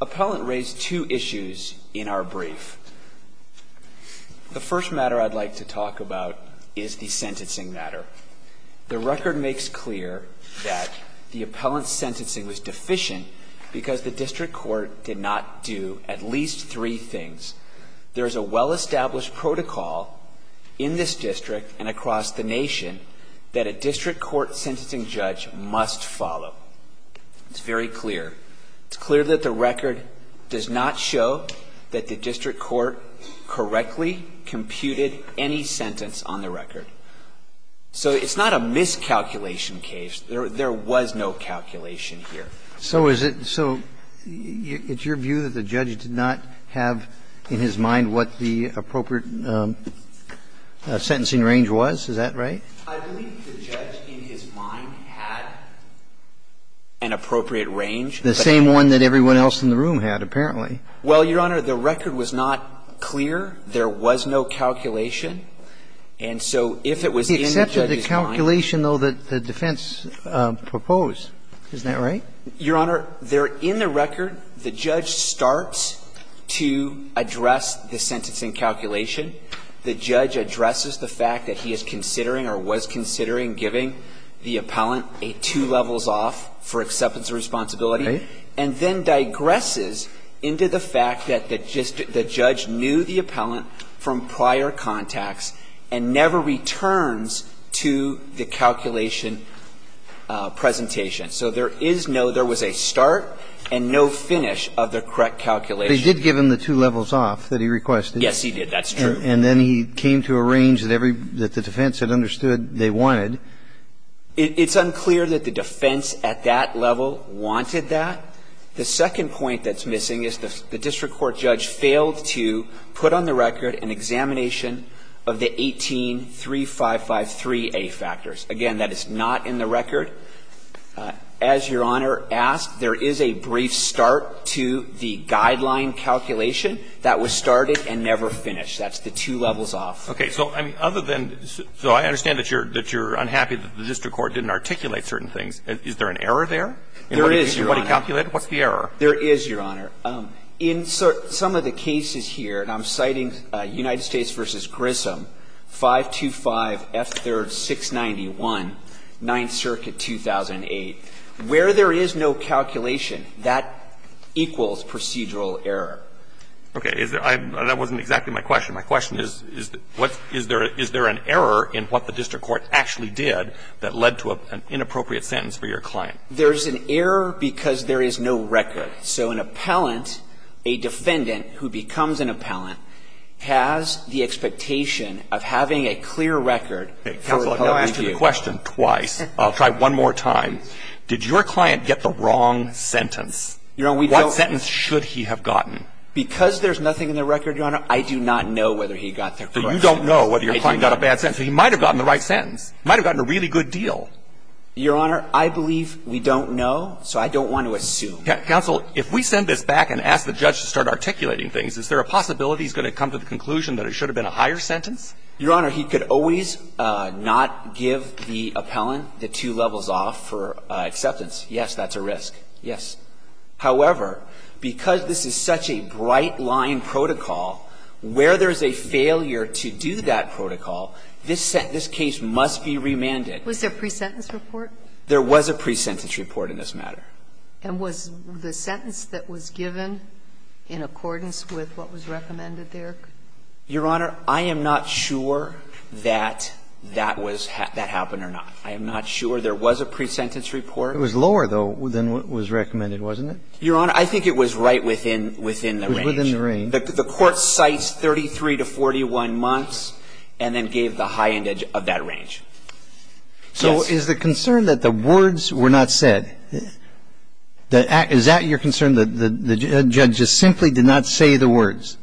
Appellant raised two issues in our brief. The first matter I'd like to talk about is the sentencing matter. The record makes clear that the appellant's sentencing was deficient because the district court did not do at least three things. There is a well-established protocol in this district and across the nation that a district court sentencing judge must follow. It's very clear. It's clear that the record does not show that the district court correctly computed any sentence on the record. So it's not a miscalculation case. There was no calculation here. So is it so it's your view that the judge did not have in his mind what the appropriate sentencing range was? Is that right? I believe the judge, in his mind, had an appropriate range. The same one that everyone else in the room had, apparently. Well, Your Honor, the record was not clear. There was no calculation. And so if it was in the judge's mind – And there was no calculation, though, that the defense proposed. Isn't that right? Your Honor, there in the record, the judge starts to address the sentencing calculation. The judge addresses the fact that he is considering or was considering giving the appellant a two levels off for acceptance of responsibility, and then digresses into the fact that the judge knew the appellant from prior contacts and never returns to the appellant's account. So the judge did not address the calculation presentation. So there is no – there was a start and no finish of the correct calculation. But he did give him the two levels off that he requested. Yes, he did. That's true. And then he came to a range that every – that the defense had understood they wanted. It's unclear that the defense at that level wanted that. The second point that's Again, that is not in the record. As Your Honor asked, there is a brief start to the guideline calculation that was started and never finished. That's the two levels off. Okay. So, I mean, other than – so I understand that you're – that you're unhappy that the district court didn't articulate certain things. Is there an error there? There is, Your Honor. In what he calculated? What's the error? There is, Your Honor. In some of the cases here, and I'm citing United States v. Grissom, 525 F. 3rd, 691, 9th Circuit, 2008, where there is no calculation, that equals procedural error. Okay. Is there – that wasn't exactly my question. My question is, is there an error in what the district court actually did that led to an inappropriate sentence for your client? There's an error because there is no record. So an appellant, a defendant who becomes an appellant, has the expectation of having a clear record for a public review. Counsel, I've now asked you the question twice. I'll try one more time. Did your client get the wrong sentence? Your Honor, we don't – What sentence should he have gotten? Because there's nothing in the record, Your Honor, I do not know whether he got the correct sentence. So you don't know whether your client got a bad sentence. He might have gotten the right sentence. He might have gotten a really good deal. Your Honor, I believe we don't know, so I don't want to assume. Counsel, if we send this back and ask the judge to start articulating things, is there a possibility he's going to come to the conclusion that it should have been a higher sentence? Your Honor, he could always not give the appellant the two levels off for acceptance. Yes, that's a risk. Yes. However, because this is such a bright-line protocol, where there's a failure to do that protocol, this case must be remanded. Was there a pre-sentence report? There was a pre-sentence report in this matter. And was the sentence that was given in accordance with what was recommended there? Your Honor, I am not sure that that was – that happened or not. I am not sure. There was a pre-sentence report. It was lower, though, than what was recommended, wasn't it? Your Honor, I think it was right within the range. Within the range. The court cites 33 to 41 months and then gave the high end edge of that range. Yes. So is the concern that the words were not said? Is that your concern, that the judge just simply did not say the words?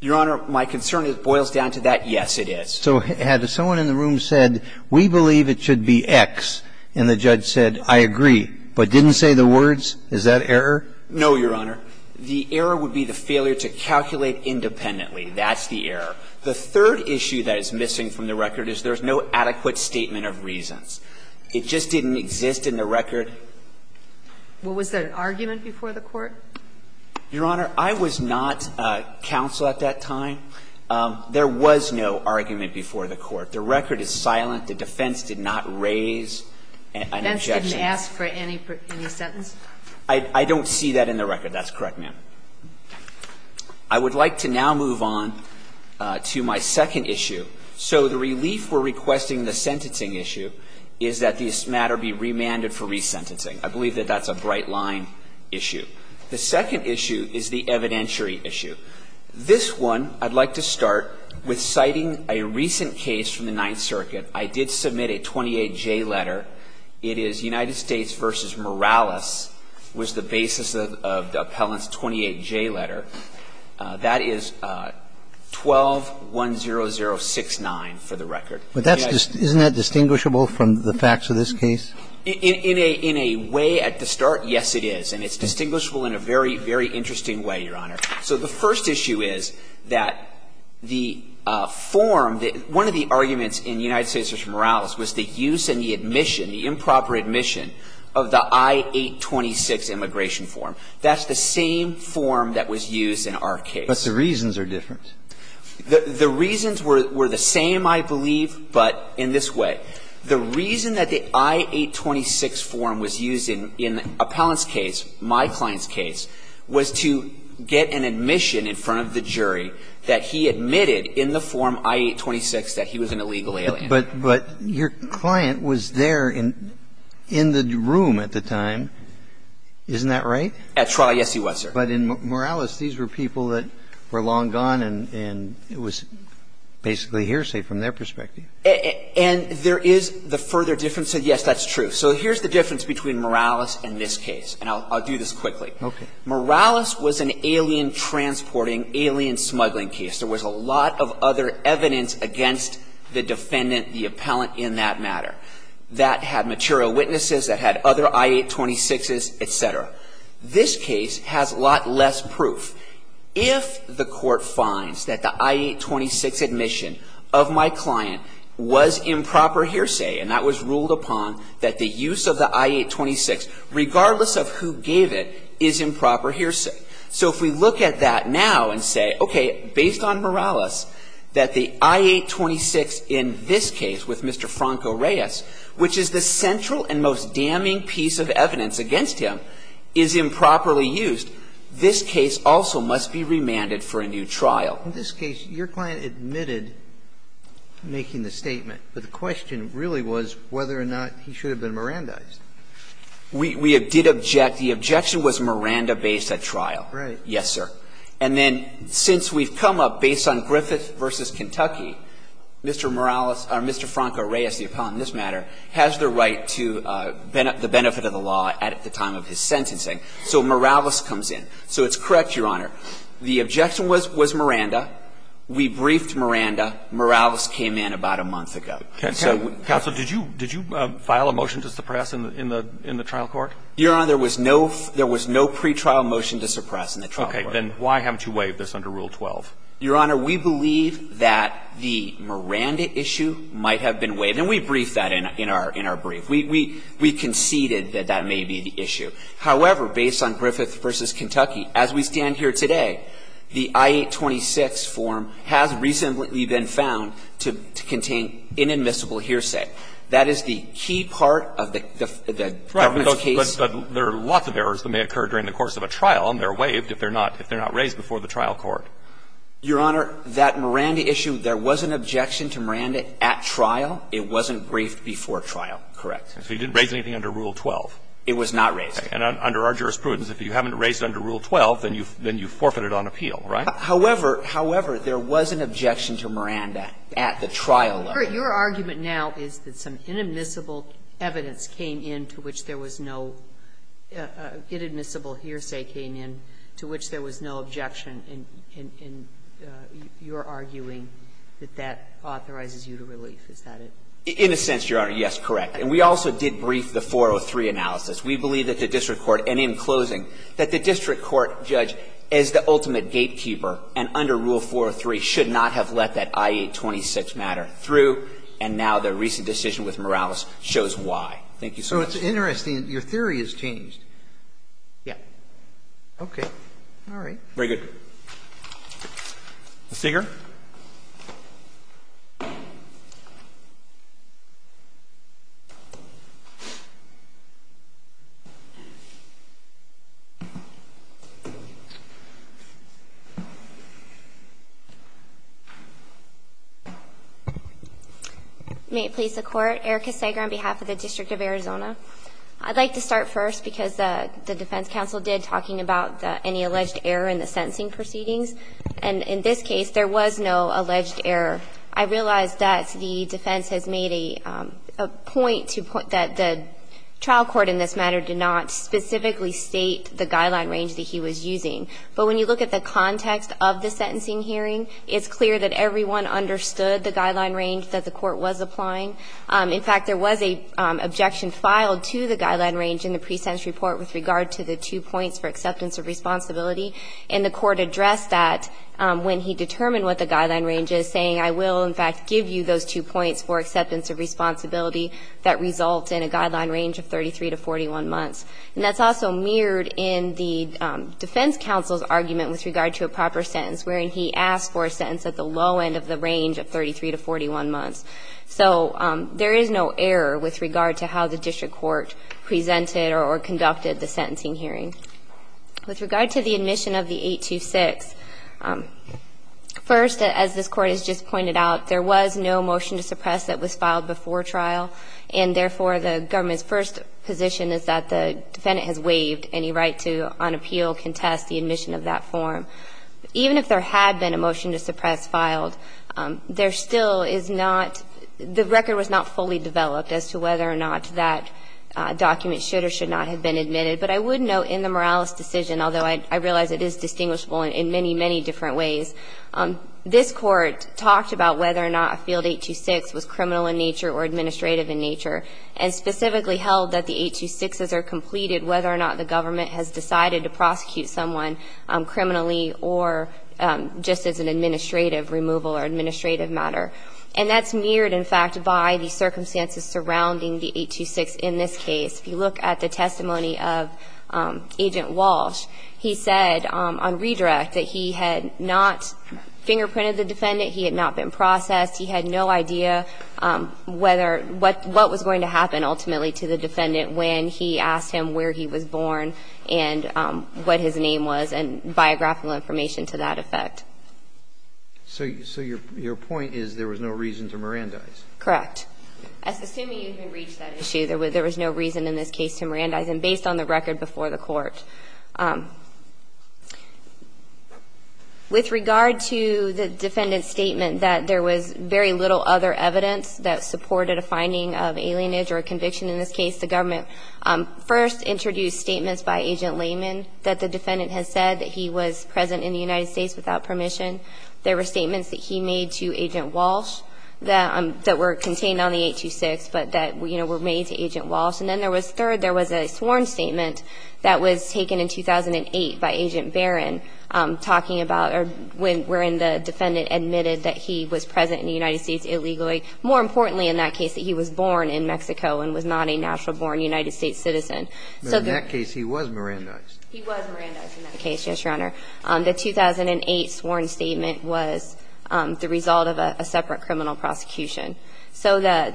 Your Honor, my concern boils down to that, yes, it is. So had someone in the room said, we believe it should be X, and the judge said, I agree, but didn't say the words, is that error? No, Your Honor. The error would be the failure to calculate independently. That's the error. The third issue that is missing from the record is there's no adequate statement of reasons. It just didn't exist in the record. Well, was there an argument before the court? Your Honor, I was not counsel at that time. There was no argument before the court. The record is silent. The defense did not raise an objection. The defense didn't ask for any sentence? I don't see that in the record. That's correct, ma'am. I would like to now move on to my second issue. So the relief we're requesting in the sentencing issue is that this matter be remanded for resentencing. I believe that that's a bright line issue. The second issue is the evidentiary issue. This one, I'd like to start with citing a recent case from the Ninth Circuit. I did submit a 28J letter. It is United States v. Morales was the basis of the appellant's 28J letter. That is 12-10069 for the record. Isn't that distinguishable from the facts of this case? In a way, at the start, yes, it is. And it's distinguishable in a very, very interesting way, Your Honor. So the first issue is that the form that one of the arguments in United States v. Morales was the use and the admission, the improper admission of the I-826 immigration form. That's the same form that was used in our case. But the reasons are different. The reasons were the same, I believe, but in this way. The reason that the I-826 form was used in the appellant's case, my client's case, was to get an admission in front of the jury that he admitted in the form I-826 that he was an illegal alien. But your client was there in the room at the time. Isn't that right? At trial, yes, he was there. But in Morales, these were people that were long gone, and it was basically hearsay from their perspective. And there is the further difference of, yes, that's true. So here's the difference between Morales and this case, and I'll do this quickly. Okay. Morales was an alien-transporting, alien-smuggling case. There was a lot of other evidence against the defendant, the appellant in that matter, that had material witnesses, that had other I-826s, et cetera. This case has a lot less proof. If the court finds that the I-826 admission of my client was improper hearsay, and that was ruled upon, that the use of the I-826, regardless of who gave it, is improper hearsay. So if we look at that now and say, okay, based on Morales, that the I-826 in this case with Mr. Franco Reyes, which is the central and most damning piece of the case, is improperly used, this case also must be remanded for a new trial. In this case, your client admitted making the statement, but the question really was whether or not he should have been Mirandized. We did object. The objection was Miranda-based at trial. Right. Yes, sir. And then since we've come up, based on Griffith v. Kentucky, Mr. Morales, or Mr. Franco Reyes, the appellant in this matter, has the right to the benefit of the law at the time of his sentencing. So Morales comes in. So it's correct, Your Honor. The objection was Miranda. We briefed Miranda. Morales came in about a month ago. Counsel, did you file a motion to suppress in the trial court? Your Honor, there was no pretrial motion to suppress in the trial court. Okay. Then why haven't you waived this under Rule 12? Your Honor, we believe that the Miranda issue might have been waived, and we briefed Miranda in our brief. We conceded that that may be the issue. However, based on Griffith v. Kentucky, as we stand here today, the I-826 form has recently been found to contain inadmissible hearsay. That is the key part of the government's case. Right. But there are lots of errors that may occur during the course of a trial, and they are waived if they are not raised before the trial court. Your Honor, that Miranda issue, there was an objection to Miranda at trial. It wasn't briefed before trial. Correct. So you didn't raise anything under Rule 12? It was not raised. And under our jurisprudence, if you haven't raised it under Rule 12, then you forfeited on appeal, right? However, however, there was an objection to Miranda at the trial level. Your argument now is that some inadmissible evidence came in to which there was no ---- inadmissible hearsay came in to which there was no objection, and you're arguing that that authorizes you to relief. Is that it? In a sense, Your Honor, yes, correct. And we also did brief the 403 analysis. We believe that the district court, and in closing, that the district court judge as the ultimate gatekeeper and under Rule 403 should not have let that I-826 matter through, and now the recent decision with Morales shows why. Thank you so much. So it's interesting. Your theory has changed. Yes. Okay. All right. Very good. Ms. Segar. May it please the Court. Erika Segar on behalf of the District of Arizona. I'd like to start first, because the defense counsel did, talking about any alleged error in the sentencing process. And in this case, there was no alleged error. I realize that the defense has made a point to put that the trial court in this matter did not specifically state the guideline range that he was using. But when you look at the context of the sentencing hearing, it's clear that everyone understood the guideline range that the court was applying. In fact, there was an objection filed to the guideline range in the pre-sentence report with regard to the two points for acceptance of responsibility. And the court addressed that when he determined what the guideline range is, saying, I will, in fact, give you those two points for acceptance of responsibility that result in a guideline range of 33 to 41 months. And that's also mirrored in the defense counsel's argument with regard to a proper sentence, wherein he asked for a sentence at the low end of the range of 33 to 41 months. So there is no error with regard to how the district court presented or conducted the sentencing hearing. With regard to the admission of the 826, first, as this Court has just pointed out, there was no motion to suppress that was filed before trial. And therefore, the government's first position is that the defendant has waived any right to, on appeal, contest the admission of that form. Even if there had been a motion to suppress filed, there still is not the record was not fully developed as to whether or not that document should or should not have been admitted. But I would note in the Morales decision, although I realize it is distinguishable in many, many different ways, this Court talked about whether or not a Field 826 was criminal in nature or administrative in nature, and specifically held that the 826s are completed whether or not the government has decided to prosecute someone criminally or just as an administrative removal or administrative matter. And that's mirrored, in fact, by the circumstances surrounding the 826 in this case. If you look at the testimony of Agent Walsh, he said on redirect that he had not fingerprinted the defendant, he had not been processed, he had no idea whether or what was going to happen ultimately to the defendant when he asked him where he was born and what his name was and biographical information to that effect. So your point is there was no reason to Mirandize? Correct. Assuming you haven't reached that issue, there was no reason in this case to Mirandize and based on the record before the Court. With regard to the defendant's statement that there was very little other evidence that supported a finding of alienage or conviction in this case, the government first introduced statements by Agent Lehman that the defendant has said that he was present in the United States without permission. There were statements that he made to Agent Walsh that were contained on the 826 but that were made to Agent Walsh. And then there was third, there was a sworn statement that was taken in 2008 by Agent Barron talking about when the defendant admitted that he was present in the United States illegally, more importantly in that case that he was born in Mexico and was not a natural born United States citizen. But in that case, he was Mirandized. He was Mirandized in that case, yes, Your Honor. The 2008 sworn statement was the result of a separate criminal prosecution. So the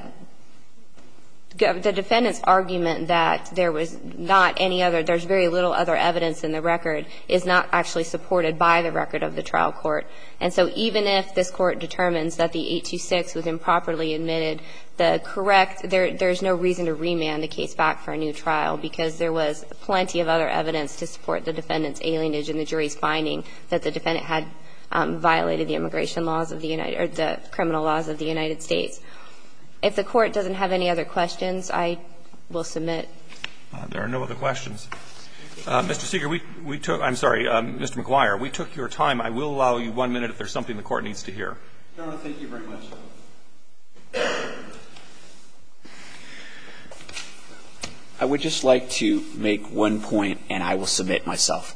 defendant's argument that there was not any other, there's very little other evidence in the record is not actually supported by the record of the trial court. And so even if this Court determines that the 826 was improperly admitted, the correct, there's no reason to remand the case back for a new trial because there was plenty of other evidence to support the defendant's alienage in the jury's finding that the defendant had violated the immigration laws of the United, or the criminal laws of the United States. If the court doesn't have any other questions, I will submit. There are no other questions. Mr. Seeger, we took, I'm sorry, Mr. McGuire, we took your time. I will allow you one minute if there's something the court needs to hear. No, no, thank you very much. I would just like to make one point and I will submit myself.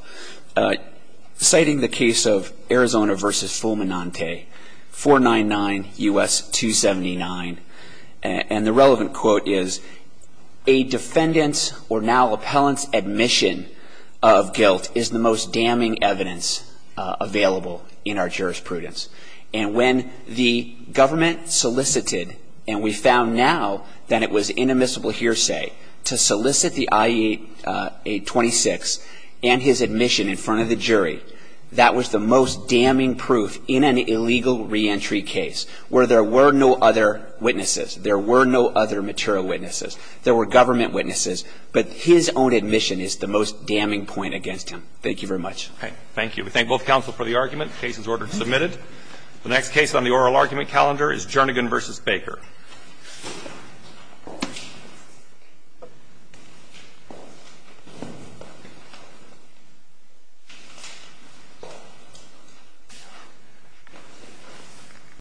Citing the case of Arizona v. Fulminante, 499 U.S. 279, and the relevant quote is, a defendant's or now appellant's admission of guilt is the most damning evidence available in our jurisprudence. And when the government solicited and we found now that it was inadmissible hearsay to solicit the I-826 and his admission in front of the jury, that was the most damning proof in an illegal reentry case where there were no other witnesses. There were no other material witnesses. There were government witnesses. But his own admission is the most damning point against him. Thank you very much. Thank you. We thank both counsel for the argument. The case is ordered and submitted. The next case on the oral argument calendar is Jernigan v. Baker.